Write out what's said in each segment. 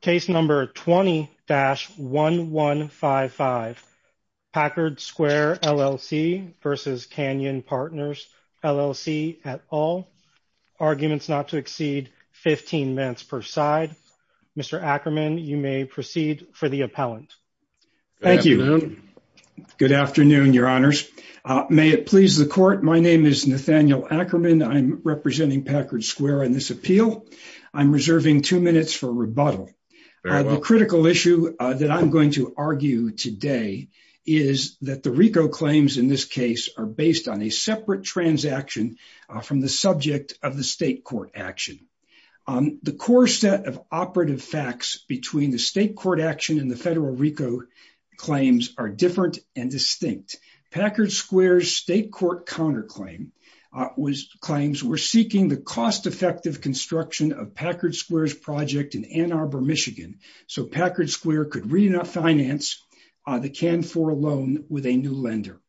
Case number 20-1155. Packard Square LLC versus Canyon Partners LLC at all. Arguments not to exceed 15 minutes per side. Mr. Ackerman, you may proceed for the appellant. Thank you. Good afternoon, your honors. May it please the court, my name is Nathaniel Ackerman. I'm representing Packard Square in this appeal. I'm reserving two minutes for rebuttal. The critical issue that I'm going to argue today is that the RICO claims in this case are based on a separate transaction from the subject of the state court action. The core set of operative facts between the state court action and the federal RICO claims are different and distinct. Packard Square's state court counterclaim was claims were seeking the cost-effective construction of Packard Square's project in Ann Arbor, Michigan. So Packard Square could refinance the Canfor loan with a new lender.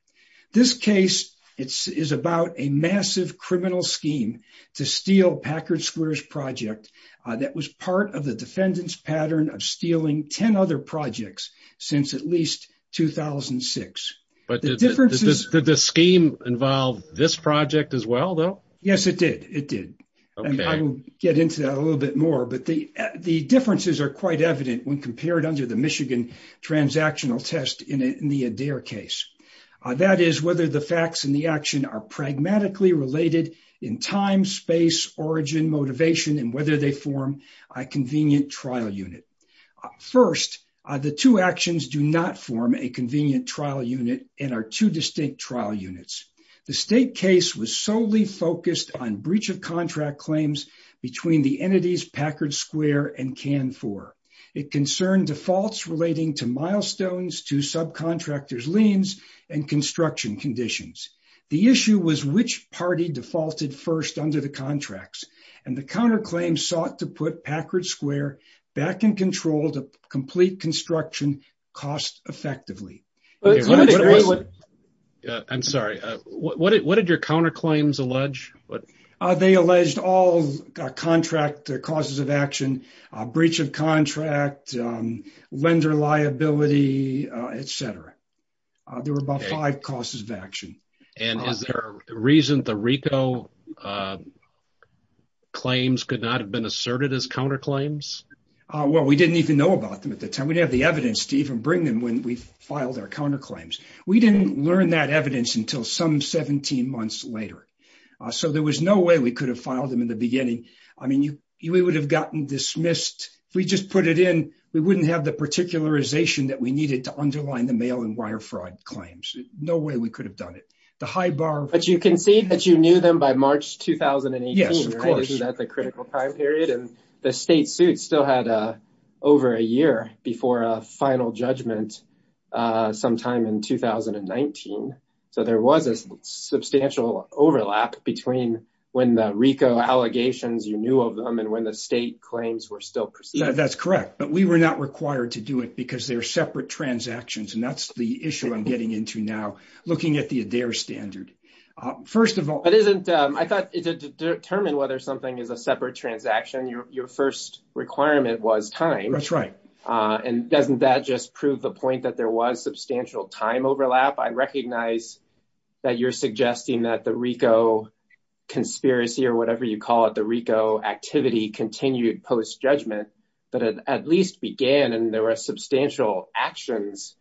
This case is about a massive criminal scheme to steal Packard Square's project that was part of the defendant's pattern of stealing 10 other projects since at the time. Did the scheme involve this project as well, though? Yes, it did. It did. I will get into that a little bit more, but the differences are quite evident when compared under the Michigan transactional test in the Adair case. That is whether the facts and the action are pragmatically related in time, space, origin, motivation, and whether they form a convenient trial unit. First, the two actions do not form a convenient trial unit and are two distinct trial units. The state case was solely focused on breach of contract claims between the entities Packard Square and Canfor. It concerned defaults relating to milestones to subcontractors' liens and construction conditions. The issue was which party defaulted first under the contracts, and the counterclaims sought to put Packard Square back in control to complete construction cost-effectively. I'm sorry, what did your counterclaims allege? They alleged all contract causes of action, breach of contract, lender liability, etc. There were about five claims that could not have been asserted as counterclaims. We didn't even know about them at the time. We didn't have the evidence to even bring them when we filed our counterclaims. We didn't learn that evidence until some 17 months later. There was no way we could have filed them in the beginning. We would have gotten dismissed. If we just put it in, we wouldn't have the particularization that we needed to underline the mail and wire fraud claims. No way we could have done it. But you can see that you knew them by March 2018, right? Isn't that the critical time period? The state suit still had over a year before a final judgment sometime in 2019, so there was a substantial overlap between when the RICO allegations, you knew of them, and when the state claims were still proceeding. That's correct, but we were not required to do it because they're separate transactions, and that's the issue I'm getting into now, looking at the ADAIR standard. First of all... I thought to determine whether something is a separate transaction, your first requirement was time. That's right. And doesn't that just prove the point that there was substantial time overlap? I recognize that you're suggesting that the RICO conspiracy or whatever you call it, the RICO activity continued post-judgment, but it at least began, and there were substantial actions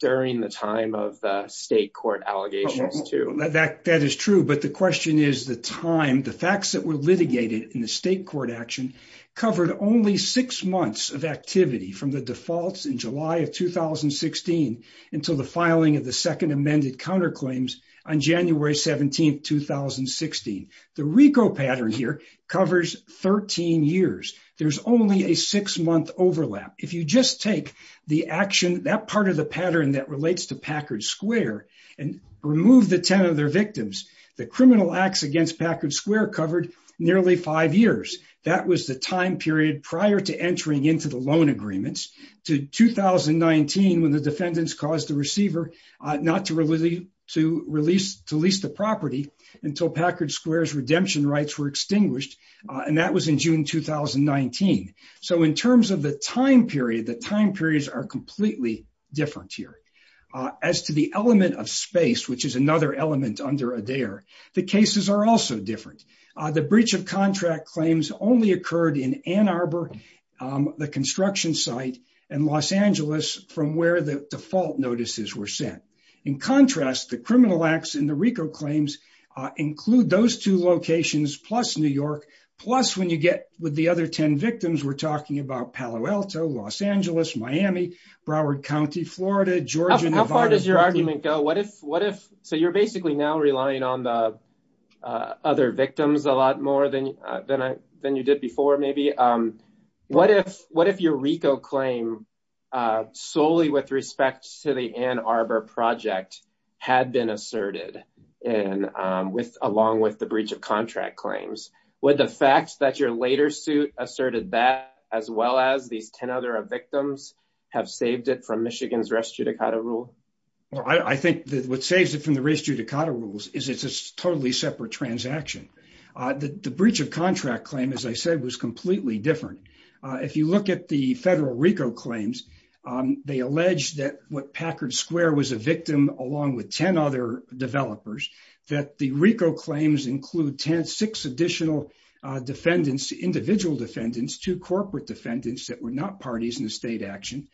during the time of state court allegations too. That is true, but the question is the time, the facts that were litigated in the state court action covered only six months of activity from the defaults in July of 2016 until the filing of the second amended counterclaims on January 17, 2016. The RICO pattern here covers 13 years. There's only a six-month overlap. If you just take the action, that part of the pattern that relates to Packard Square and remove the 10 of their victims, the criminal acts against Packard Square covered nearly five years. That was the time period prior to entering into the loan agreements to 2019 when the defendants caused the receiver not to release the property until Packard Square's redemption rights were extinguished, and that was in June 2019. So in terms of the time period, the time periods are completely different here. As to the element of space, which is another element under ADARE, the cases are also different. The breach of contract claims only occurred in Ann Arbor, the construction site, and Los Angeles from where the default notices were sent. In contrast, the criminal acts in the RICO claims include those two locations plus New York, plus when you get with the other 10 victims, we're talking about Palo Alto, Los Angeles, Miami, Broward County, Florida, Georgia. How far does your argument go? So you're basically now relying on the victims a lot more than you did before maybe. What if your RICO claim solely with respect to the Ann Arbor project had been asserted along with the breach of contract claims? Would the fact that your later suit asserted that as well as these 10 other victims have saved it from Michigan's rest judicata rule? I think that what saves it from the rest judicata rules is it's a separate transaction. The breach of contract claim, as I said, was completely different. If you look at the federal RICO claims, they allege that what Packard Square was a victim along with 10 other developers, that the RICO claims include six additional defendants, individual defendants, two corporate defendants that were not parties in the state action.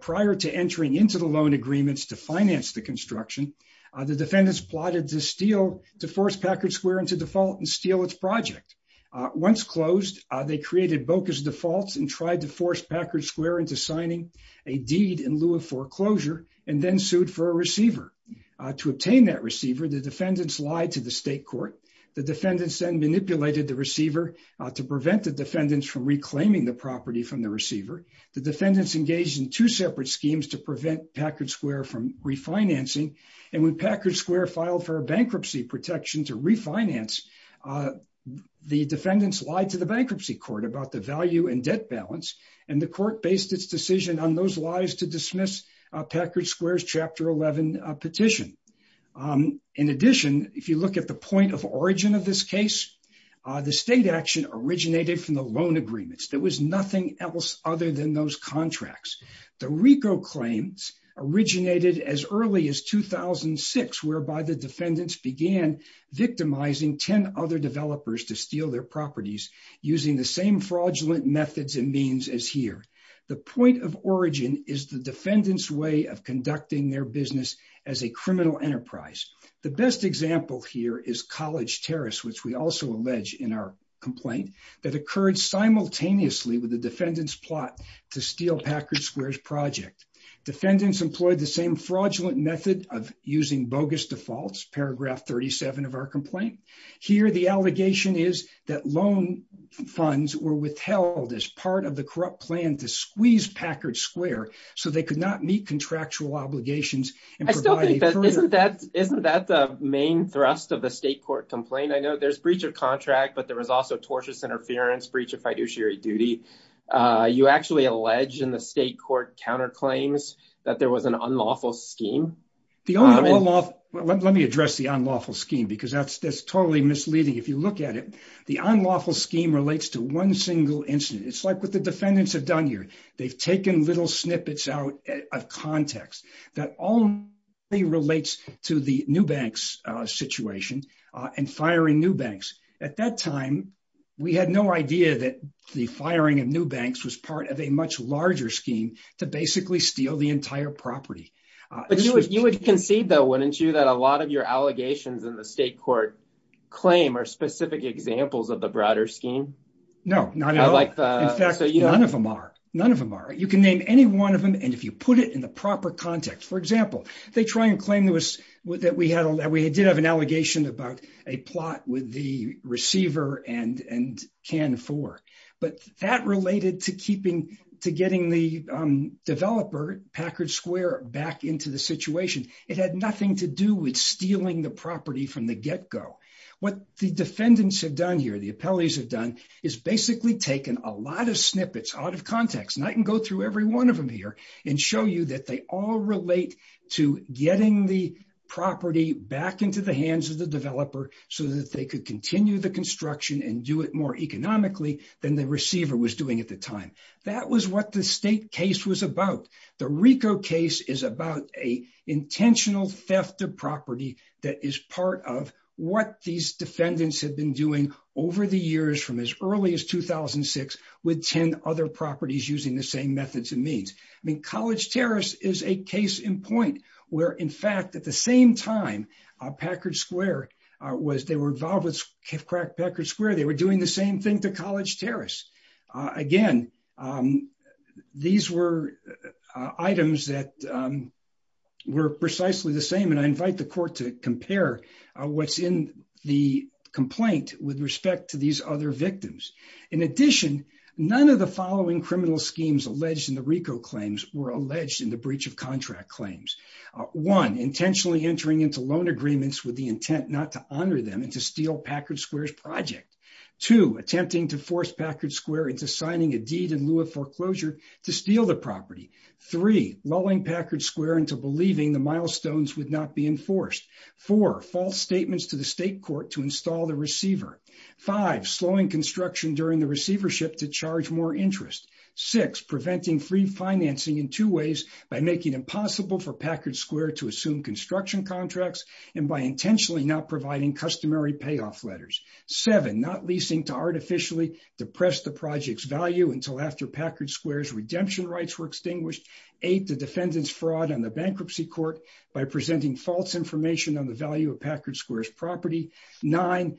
Prior to entering into the loan agreements to finance the construction, the defendants plotted to force Packard Square into default and steal its project. Once closed, they created Boca's defaults and tried to force Packard Square into signing a deed in lieu of foreclosure and then sued for a receiver. To obtain that receiver, the defendants lied to the state court. The defendants then manipulated the receiver to prevent the defendants from reclaiming the property from the receiver. The defendants engaged in two separate schemes to prevent Packard Square from refinancing. When Packard Square filed for a bankruptcy protection to refinance, the defendants lied to the bankruptcy court about the value and debt balance. The court based its decision on those lies to dismiss Packard Square's Chapter 11 petition. In addition, if you look at the point of origin of this case, the state action originated from loan agreements. There was nothing else other than those contracts. The RICO claims originated as early as 2006, whereby the defendants began victimizing 10 other developers to steal their properties using the same fraudulent methods and means as here. The point of origin is the defendant's way of conducting their business as a criminal enterprise. The best example here is College Terrace, which we also allege in our complaint, that occurred simultaneously with the defendant's plot to steal Packard Square's project. Defendants employed the same fraudulent method of using bogus defaults, paragraph 37 of our complaint. Here the allegation is that loan funds were withheld as part of the corrupt plan to squeeze Packard Square so they could not meet There's breach of contract, but there was also tortious interference, breach of fiduciary duty. You actually allege in the state court counterclaims that there was an unlawful scheme. Let me address the unlawful scheme because that's totally misleading. If you look at it, the unlawful scheme relates to one single incident. It's like what the defendants have done here. They've taken little snippets out of context that only relates to the Newbank's situation and firing Newbanks. At that time, we had no idea that the firing of Newbanks was part of a much larger scheme to basically steal the entire property. You would concede though, wouldn't you, that a lot of your allegations in the state court claim are specific examples of the broader scheme? No, none of them are. You can name any one of them and if you put it in the But that related to getting the developer, Packard Square, back into the situation. It had nothing to do with stealing the property from the get-go. What the defendants have done here, the appellees have done, is basically taken a lot of snippets out of context. I can go through one of them here and show you that they all relate to getting the property back into the hands of the developer so that they could continue the construction and do it more economically than the receiver was doing at the time. That was what the state case was about. The RICO case is about an intentional theft of property that is part of what these defendants have been doing over the years from as early as 2006 with 10 other properties using the same methods and means. I mean, College Terrace is a case in point where, in fact, at the same time, Packard Square was, they were involved with crack Packard Square. They were doing the same thing to College Terrace. Again, these were items that were precisely the same and I invite the court to compare what's in the complaint with respect to these other victims. In addition, none of the following criminal schemes alleged in the RICO claims were alleged in the breach of contract claims. One, intentionally entering into loan agreements with the intent not to honor them and to steal Packard Square's project. Two, attempting to force Packard Square into signing a deed in lieu of foreclosure to steal the property. Three, lulling Packard Square into believing the statements to the state court to install the receiver. Five, slowing construction during the receivership to charge more interest. Six, preventing free financing in two ways by making impossible for Packard Square to assume construction contracts and by intentionally not providing customary payoff letters. Seven, not leasing to artificially depress the project's value until after Packard Square's redemption rights were extinguished. Eight, the defendant's value of Packard Square's property. Nine,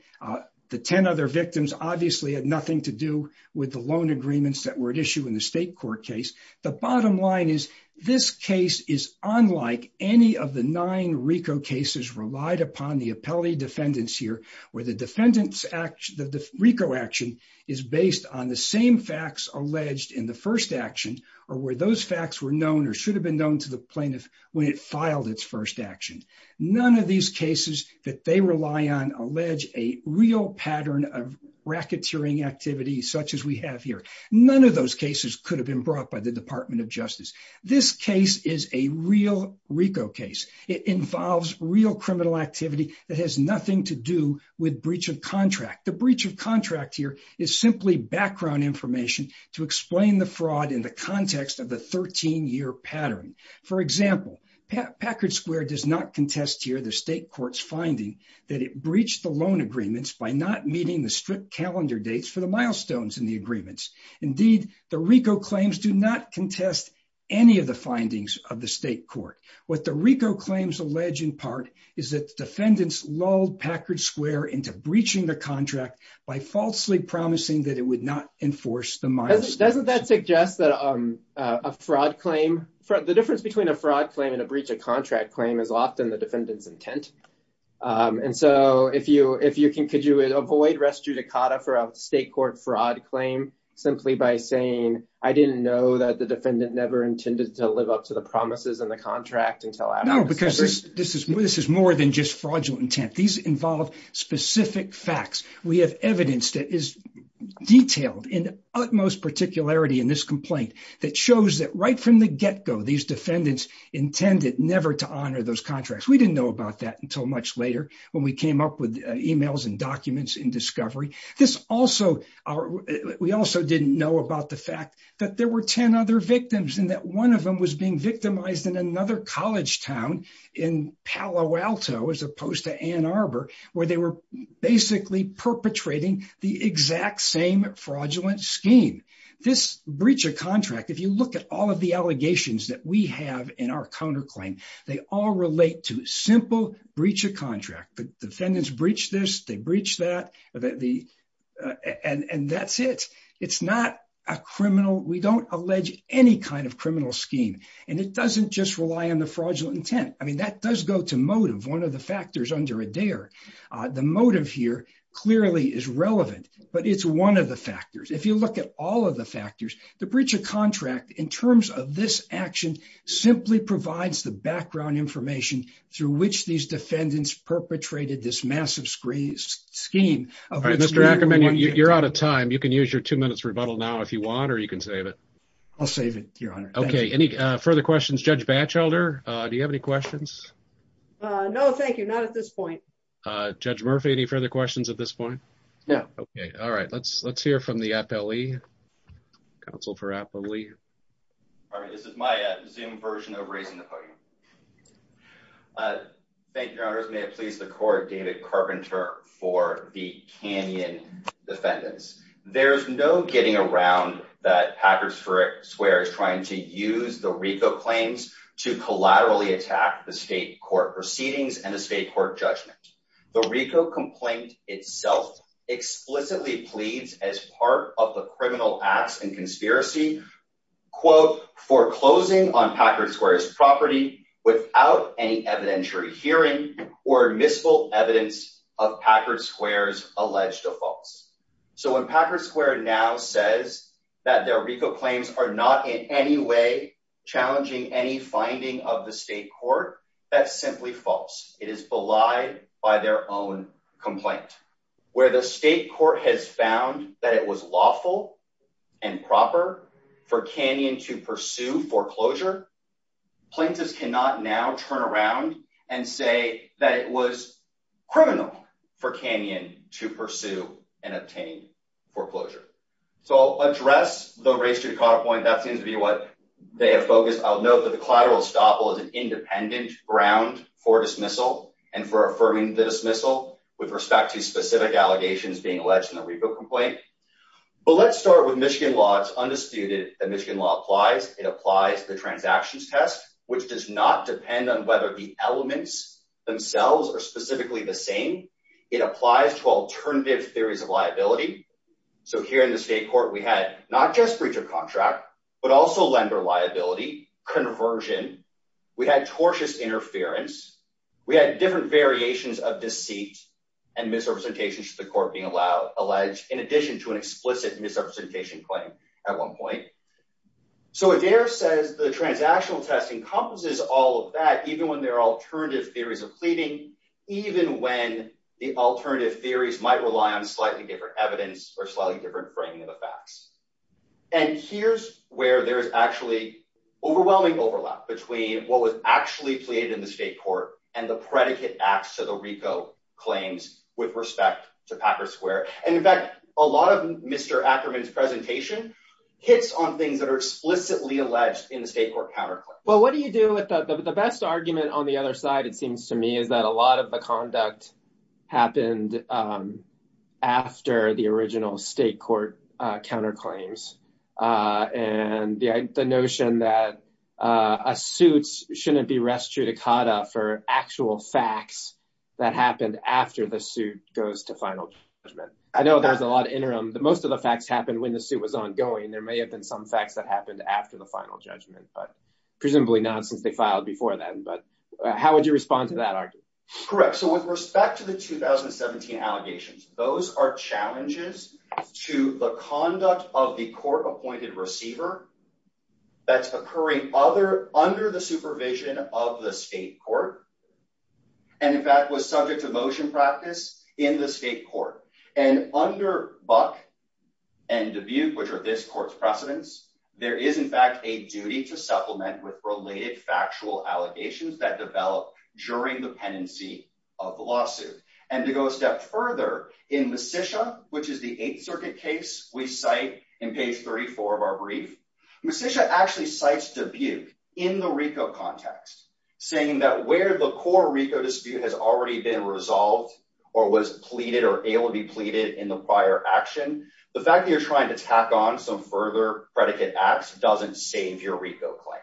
the 10 other victims obviously had nothing to do with the loan agreements that were at issue in the state court case. The bottom line is, this case is unlike any of the nine RICO cases relied upon the appellate defendants here, where the defendant's RICO action is based on the same facts alleged in the first action, or where those facts were known or should have been known to the plaintiff when it filed its action. None of these cases that they rely on allege a real pattern of racketeering activity such as we have here. None of those cases could have been brought by the Department of Justice. This case is a real RICO case. It involves real criminal activity that has nothing to do with breach of contract. The breach of contract here is simply background information to explain the contest here, the state court's finding that it breached the loan agreements by not meeting the strict calendar dates for the milestones in the agreements. Indeed, the RICO claims do not contest any of the findings of the state court. What the RICO claims allege in part is that the defendants lulled Packard Square into breaching the contract by falsely promising that it would not enforce the miles. Doesn't that suggest that a fraud claim for the difference between a fraud claim and a breach of contract claim is often the defendant's intent? Could you avoid res judicata for a state court fraud claim simply by saying, I didn't know that the defendant never intended to live up to the promises in the contract until after... No, because this is more than just fraudulent intent. These involve specific facts. We have evidence that is detailed in utmost particularity in this complaint that shows that right from the get-go, these defendants intended never to honor those contracts. We didn't know about that until much later when we came up with emails and documents in discovery. This also... We also didn't know about the fact that there were 10 other victims and that one of them was being victimized in another college town in Palo Alto, as opposed to Ann Arbor, where they were basically perpetrating the exact same fraudulent scheme. This breach of contract, if you look at all of the allegations that we have in our counterclaim, they all relate to simple breach of contract. The defendants breached this, they breached that, and that's it. It's not a criminal... We don't allege any kind of criminal scheme, and it doesn't just rely on the fraudulent intent. I mean, that does go to motive, one of the factors under a dare. The motive here clearly is relevant, but it's one of the factors. If you look at all of the factors, the breach of contract, in terms of this action, simply provides the background information through which these defendants perpetrated this massive scheme. All right, Mr. Ackerman, you're out of time. You can use your two minutes rebuttal now if you want, or you can save it. I'll save it, your honor. Okay, any further questions? Judge Batchelder, do you have any questions? No, thank you. Not at this point. Judge Murphy, any further questions at this point? No. Okay, all right. Let's hear from the FLE, counsel for FLE. All right, this is my Zoom version of raising the podium. Thank you, your honors. May it please the court, David Carpenter for the Canyon defendants. There's no getting around that Packard Square is trying to use the RICO claims to collaterally attack the state court proceedings and the state court judgment. The RICO complaint itself explicitly pleads as part of the criminal acts and conspiracy, quote, foreclosing on Packard Square's property without any evidentiary hearing or admissible evidence of Packard Square's alleged defaults. So when Packard Square now says that their RICO claims are not in any way challenging any finding of the state court, that's simply false. It is lie by their own complaint. Where the state court has found that it was lawful and proper for Canyon to pursue foreclosure, plaintiffs cannot now turn around and say that it was criminal for Canyon to pursue and obtain foreclosure. So I'll address the race to the caught point. That seems to be what they have focused. I'll note that the collateral estoppel is an independent ground for dismissal and for affirming the dismissal with respect to specific allegations being alleged in the RICO complaint. But let's start with Michigan law. It's undisputed that Michigan law applies. It applies to the transactions test, which does not depend on whether the elements themselves are specifically the same. It applies to alternative theories of liability. So here in the state court, we had not just breach of contract, but also lender liability, conversion. We had tortious interference. We had different variations of deceit and misrepresentations to the court being allowed, alleged in addition to an explicit misrepresentation claim at one point. So if there says the transactional test encompasses all of that, even when there are alternative theories of pleading, even when the alternative theories might rely on slightly different evidence or slightly different framing of the facts. And here's where there's actually overwhelming overlap between what was actually pleaded in the state court and the predicate acts to the RICO claims with respect to Packer Square. And in fact, a lot of Mr. Ackerman's presentation hits on things that are explicitly alleged in the state court counterclaim. Well, what do you do with the best argument on the other side? It seems to me that a lot of the conduct happened after the original state court counterclaims. And the notion that a suit shouldn't be res judicata for actual facts that happened after the suit goes to final judgment. I know there's a lot of interim, but most of the facts happened when the suit was ongoing. There may have been some facts that happened after the final judgment, but presumably not since they filed before then. But how would you respond to that argument? Correct. So with respect to the 2017 allegations, those are challenges to the conduct of the court appointed receiver that's occurring under the supervision of the state court. And in fact, was subject to motion practice in the state court. And under Buck and Dubuque, which are this court's precedents, there is in fact a duty to supplement with related factual allegations that develop during the pendency of the lawsuit. And to go a step further in Musicia, which is the eighth circuit case we cite in page 34 of our brief, Musicia actually cites Dubuque in the RICO context saying that where the core RICO dispute has already been resolved or was pleaded or able to be pleaded in the prior action, the fact that you're trying to tack on some further predicate acts doesn't save your RICO claim.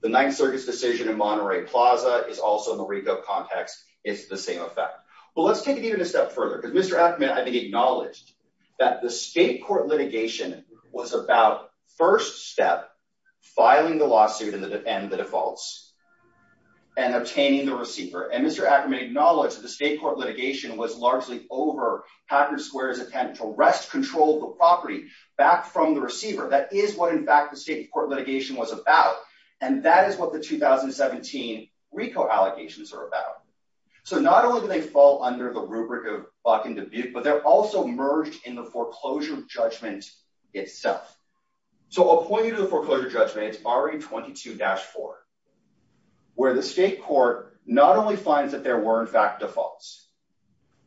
The ninth circuit's decision in Monterey Plaza is also in the RICO context. It's the same effect. But let's take it even a step further because Mr. Ackerman acknowledged that the state court litigation was about first step filing the lawsuit and the defaults and obtaining the receiver. And Mr. Ackerman acknowledged that the state court litigation was largely over Packard Square's attempt to arrest control of the property back from the receiver. That is what in fact the state court litigation was about. And that is what the 2017 RICO allegations are about. So not only do they fall under the rubric of Buck and Dubuque, but they're also merged in the foreclosure judgment itself. So a point into the foreclosure judgment is RE22-4, where the state court not only finds that there were in fact defaults,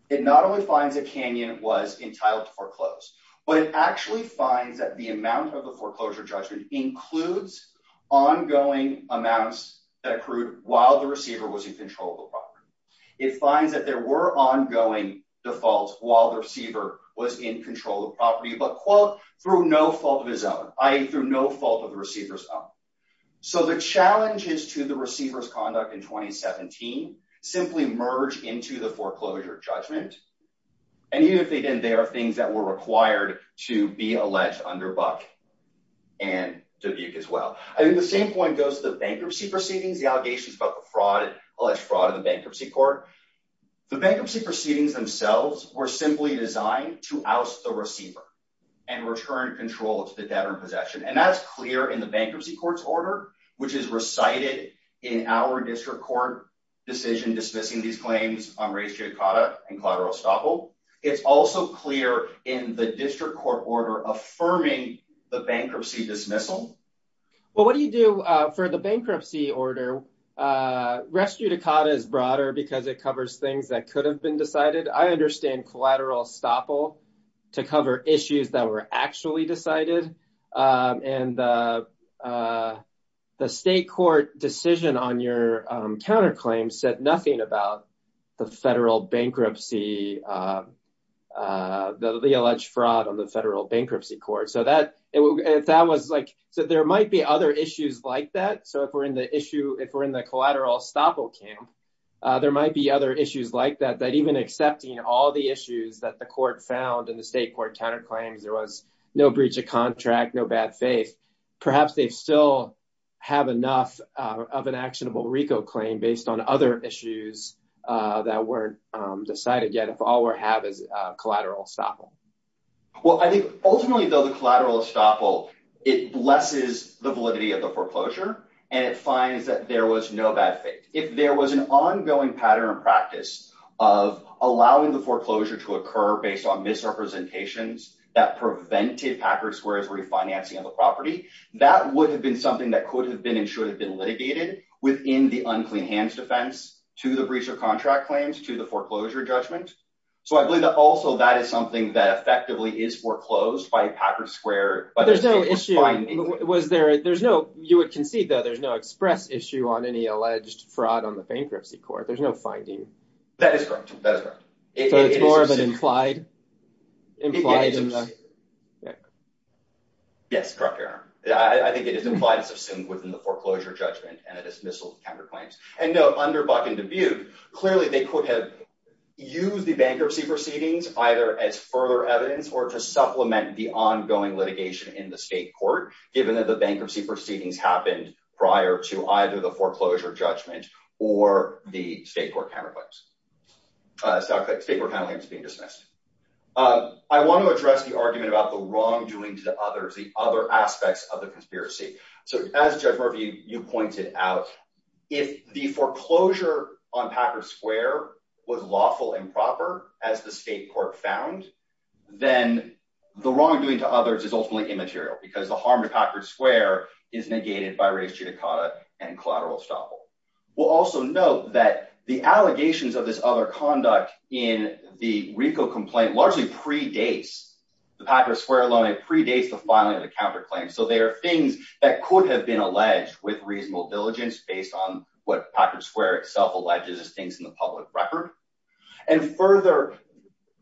it not only finds that Canyon was entitled to foreclose, but it actually finds that the amount of the foreclosure judgment includes ongoing amounts that accrued while the receiver was in control of the property. It finds that there were ongoing defaults while the receiver was in control of the property, but quote, through no fault of his own, i.e. through no fault of the receiver's own. So the challenges to the receiver's conduct in 2017 simply merge into the foreclosure judgment. And even if they didn't, they are things that were required to be alleged under Buck and Dubuque as well. I think the same point goes to the bankruptcy proceedings, the allegations about the fraud, alleged fraud of the bankruptcy court. The bankruptcy proceedings themselves were simply designed to oust the receiver and return control to the debtor in possession. And that's clear in the bankruptcy court's order, which is recited in our district court decision dismissing these claims on Restudicada and Claude Rostoppel. It's also clear in the district court order affirming the bankruptcy dismissal. Well, what do you do for the bankruptcy order? Restudicada is broader because it covers things that could have been decided. I understand Claude Rostoppel to cover issues that were actually decided. And the state court decision on your counterclaim said nothing about the federal bankruptcy, the alleged fraud of the bankruptcy. There might be other issues like that. So if we're in the collateral Rostoppel camp, there might be other issues like that, that even accepting all the issues that the court found in the state court counterclaims, there was no breach of contract, no bad faith. Perhaps they still have enough of an actionable RICO claim based on other issues that weren't decided yet, if all we have is collateral Rostoppel. Well, I think ultimately though the collateral Rostoppel, it blesses the validity of the foreclosure and it finds that there was no bad faith. If there was an ongoing pattern and practice of allowing the foreclosure to occur based on misrepresentations that prevented Packard Square's refinancing of the property, that would have been something that could have been and should have been litigated within the unclean hands defense to the breach of contract claims to the foreclosure judgment. So I believe that also that is something that effectively is foreclosed by Packard Square. But there's no issue. You would concede though, there's no express issue on any alleged fraud on the bankruptcy court. There's no finding. That is correct. That is correct. So it's more of an implied? Yes, correct, Your Honor. I think it is implied as assumed within the foreclosure judgment and a dismissal of counterclaims. And no, under Buck and Dubuque, clearly they could have used the bankruptcy proceedings either as further evidence or to supplement the ongoing litigation in the state court given that the bankruptcy proceedings happened prior to either the foreclosure judgment or the state court counterclaims being dismissed. I want to address the argument about the wrongdoing to the others, the other aspects of the conspiracy. So as Judge Murphy, you pointed out, if the foreclosure on Packard Square was lawful and proper as the state court found, then the wrongdoing to others is ultimately immaterial because the harm to Packard Square is negated by race judicata and collateral estoppel. We'll also note that the allegations of this other conduct in the RICO complaint largely predates the Packard Square loan. It predates the filing of the counterclaim. So there are things that could have been alleged with reasonable diligence based on what Packard Square itself alleges as things in the public record. And further,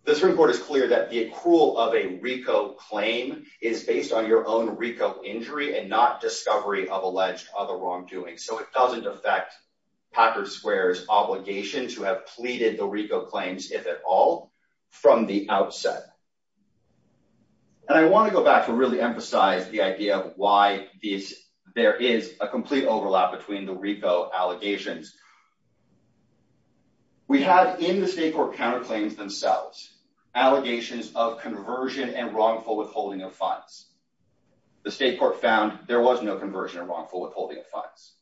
the Supreme Court is clear that the accrual of a RICO claim is based on your own RICO injury and not discovery of alleged other wrongdoing. So it doesn't affect Packard Square's obligation to have pleaded the RICO claims, if at all, from the outset. And I want to go back to really emphasize the idea of why there is a complete overlap between the RICO allegations. We have in the state court counterclaims themselves, allegations of conversion and wrongful withholding of funds. The state court found there was no conversion and wrongful withholding of funds.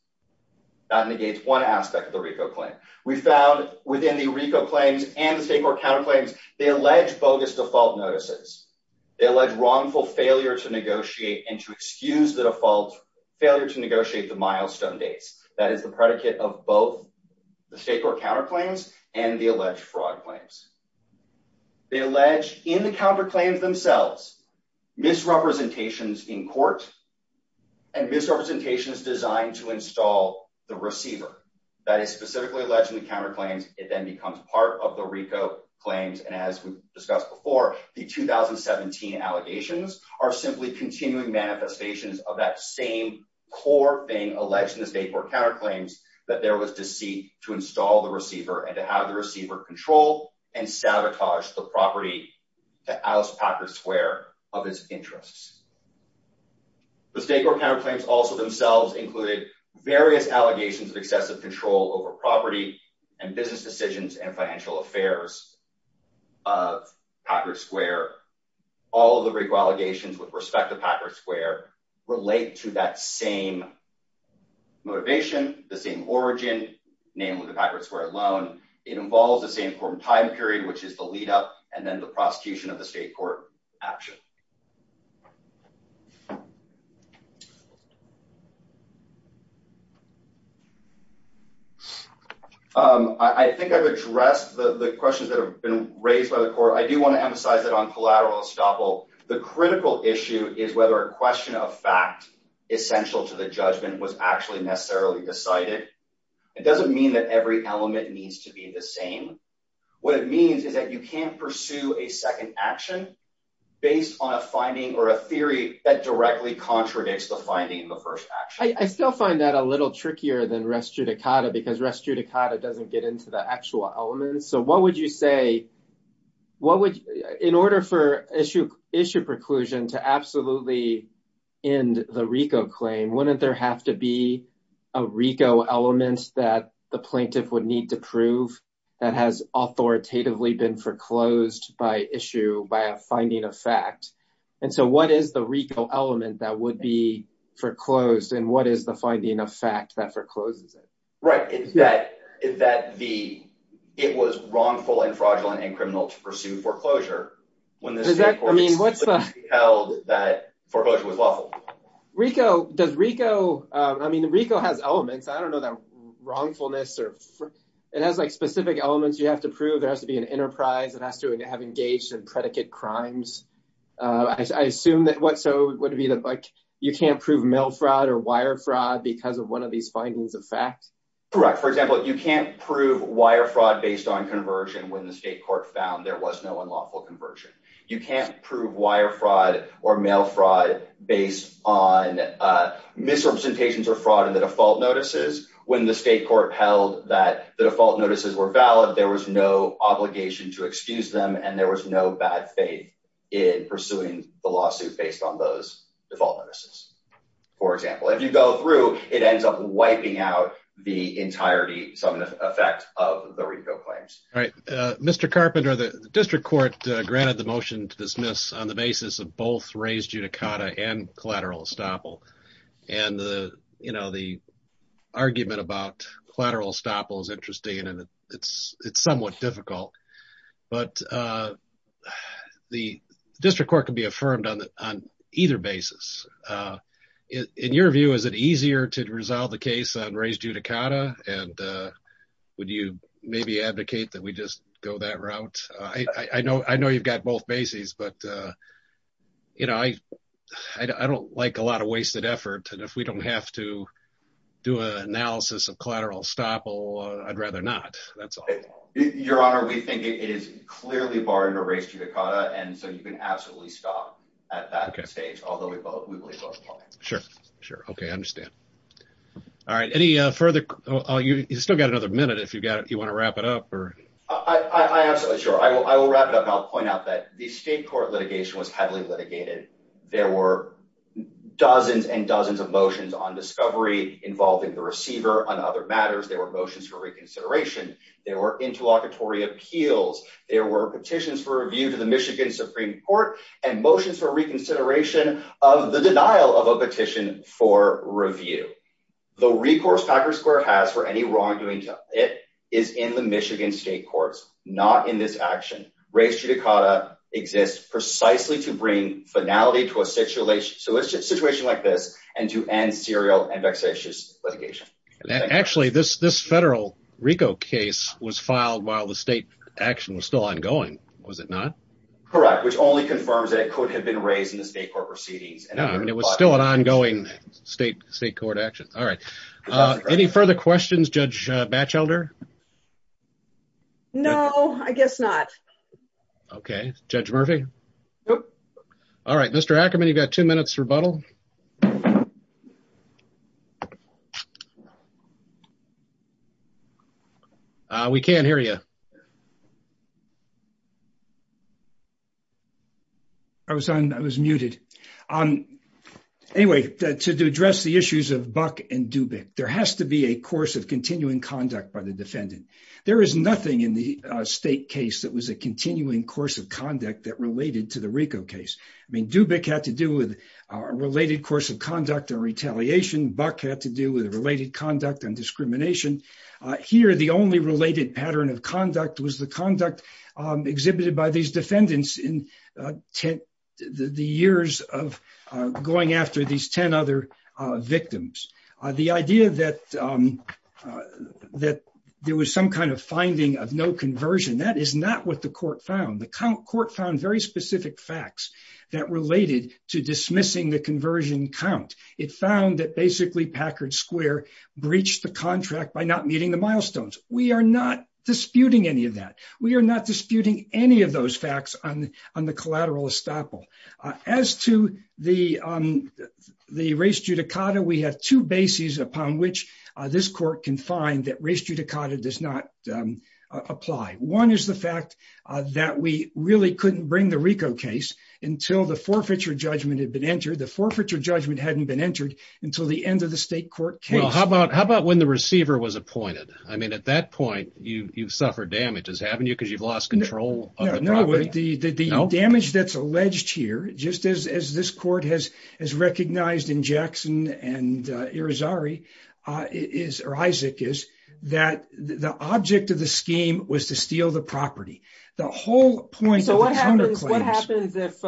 That negates one aspect of the RICO claim. We found within the RICO claims and the state court counterclaims, they allege bogus default notices. They allege wrongful failure to negotiate and to excuse the default failure to negotiate the milestone dates. That is the predicate of both the state court counterclaims and the alleged fraud claims. They allege in the counterclaims themselves, misrepresentations in court and misrepresentations designed to install the receiver that is specifically alleged in the counterclaims. It then becomes part of the RICO claims. And as we discussed before, the 2017 allegations are simply continuing manifestations of that same core thing alleged in the state court counterclaims that there was deceit to install the receiver and to have the receiver control and sabotage the property to Alice Packard Square of its interests. The state court counterclaims also themselves included various allegations of excessive control over property and business decisions and financial affairs of Packard Square. All of the RICO allegations with respect to Packard Square relate to that same motivation, the same origin name of the Packard Square loan. It involves the same court time period, which is the lead up and then the prosecution of the state court action. I think I've addressed the questions that have been raised by the court. I do want to emphasize that on collateral estoppel, the critical issue is whether a question of fact essential to the judgment was actually necessarily decided. It doesn't mean that every element needs to be the action based on a finding or a theory that directly contradicts the finding in the first action. I still find that a little trickier than REST Judicata because REST Judicata doesn't get into the actual elements. So what would you say, in order for issue preclusion to absolutely end the RICO claim, wouldn't there have to be a RICO element that the plaintiff would need to issue by a finding of fact? And so what is the RICO element that would be foreclosed and what is the finding of fact that forecloses it? Right. It was wrongful and fraudulent and criminal to pursue foreclosure when the state court held that foreclosure was lawful. I mean, RICO has elements. I don't know that wrongfulness. It has specific elements you have to prove. There has to be an enterprise. It has to have engaged in predicate crimes. I assume that what so would be like you can't prove mail fraud or wire fraud because of one of these findings of fact. Correct. For example, you can't prove wire fraud based on conversion when the state court found there was no unlawful conversion. You can't prove wire fraud or mail fraud based on misrepresentations or fraud in the default notices. When the state court held that the default notices were valid, there was no obligation to excuse them and there was no bad faith in pursuing the lawsuit based on those default notices. For example, if you go through it ends up wiping out the entirety some effect of the RICO claims. All right. Mr. Carpenter, the district court granted the motion to dismiss on the basis of both raised judicata and collateral estoppel. And the argument about collateral estoppel is interesting and it is somewhat difficult. But the district court can be affirmed on either basis. In your view, is it easier to resolve the case on raised judicata and would you maybe advocate that we just go that route? I know it would take a lot of wasted effort and if we don't have to do an analysis of collateral estoppel, I'd rather not. That's all. Your Honor, we think it is clearly barring a raised judicata and so you can absolutely stop at that stage, although we believe both are fine. Sure. Sure. Okay. I understand. All right. You still got another minute if you want to wrap it up? I absolutely sure. I will wrap it up and I'll point out that the state court was heavily litigated. There were dozens and dozens of motions on discovery involving the receiver on other matters. There were motions for reconsideration. There were interlocutory appeals. There were petitions for review to the Michigan Supreme Court and motions for reconsideration of the denial of a petition for review. The recourse Packard Square has for any wrongdoing is in the Michigan state courts, not in this action. Raised judicata exists precisely to bring finality to a situation like this and to end serial and vexatious litigation. Actually, this federal RICO case was filed while the state action was still ongoing, was it not? Correct, which only confirms that it could have been raised in the state court proceedings. No, it was still an ongoing state court action. All right. Any further questions, Judge Batchelder? No, I guess not. Okay. Judge Murphy? Nope. All right. Mr. Ackerman, you've got two minutes rebuttal. We can't hear you. I was on. I was muted. Anyway, to address the issues of Buck and Dubik, there has to be a course of continuing conduct by the defendant. There is nothing in the state case that was a continuing course of conduct that related to the RICO case. I mean, Dubik had to do with a related course of conduct and retaliation. Buck had to do with related conduct and discrimination. Here, the only related pattern of conduct was the conduct exhibited by these defendants in the years of going after these 10 other victims. The idea that there was some kind of finding of no conversion, that is not what the court found. The court found very specific facts that related to dismissing the conversion count. It found that basically Packard Square breached the contract by not meeting the milestones. We are not disputing any of that. We are not disputing any of those milestones. As to the res judicata, we have two bases upon which this court can find that res judicata does not apply. One is the fact that we really couldn't bring the RICO case until the forfeiture judgment had been entered. The forfeiture judgment hadn't been entered until the end of the state court case. How about when the receiver was appointed? I mean, at that point, you've here, just as this court has recognized in Jackson and Irizarry, or Isaac, is that the object of the scheme was to steal the property. The whole point of the counterclaims... So what happens if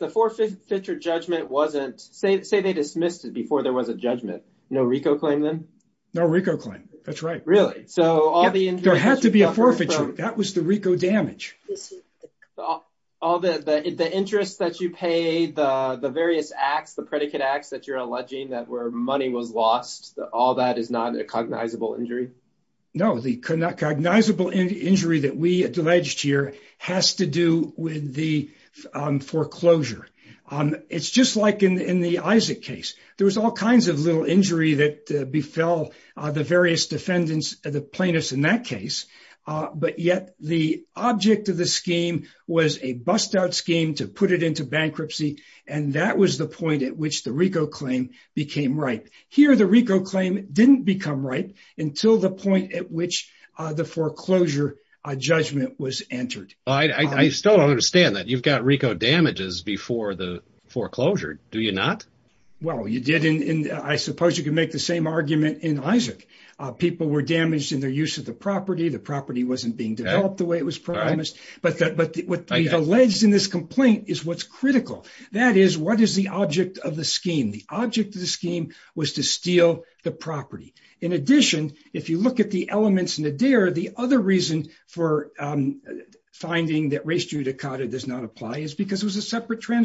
the forfeiture judgment wasn't... Say they dismissed it before there was a judgment. No RICO claim then? No RICO claim. That's right. Really? So all the... There had to be a forfeiture. That was the RICO damage. All the interest that you pay, the various acts, the predicate acts that you're alleging that where money was lost, all that is not a cognizable injury? No. The cognizable injury that we alleged here has to do with the foreclosure. It's just like in the Isaac case. There was all kinds of little injury that befell the various defendants, the plaintiffs in that case, but yet the object of the scheme was a bust-out scheme to put it into bankruptcy. And that was the point at which the RICO claim became ripe. Here, the RICO claim didn't become ripe until the point at which the foreclosure judgment was entered. I still don't understand that. You've got RICO damages before the foreclosure, do you not? Well, you did. And I suppose you can make the same argument in Isaac. People were damaged in their use of the property. The property wasn't being developed the way it was promised. But what we've alleged in this complaint is what's critical. That is, what is the object of the scheme? The object of the scheme was to steal the property. In addition, if you look at the elements in Adair, the other reason for finding that res judicata does not apply is because it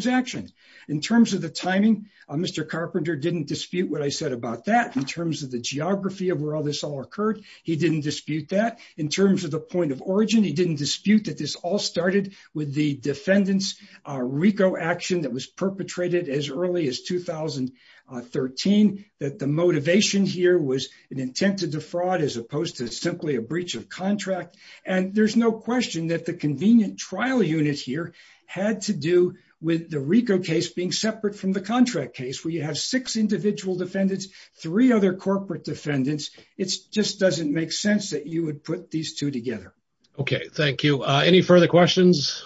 Mr. Carpenter didn't dispute what I said about that in terms of the geography of where all this all occurred. He didn't dispute that. In terms of the point of origin, he didn't dispute that this all started with the defendant's RICO action that was perpetrated as early as 2013, that the motivation here was an intent to defraud as opposed to simply a breach of contract. And there's no question that the convenient trial unit here had to do with the RICO case being separate from the contract case where you have six individual defendants, three other corporate defendants. It just doesn't make sense that you would put these two together. Okay. Thank you. Any further questions?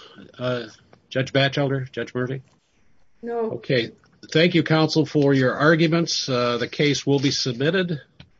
Judge Batchelder? Judge Murphy? No. Okay. Thank you, counsel, for your arguments. The case will be submitted.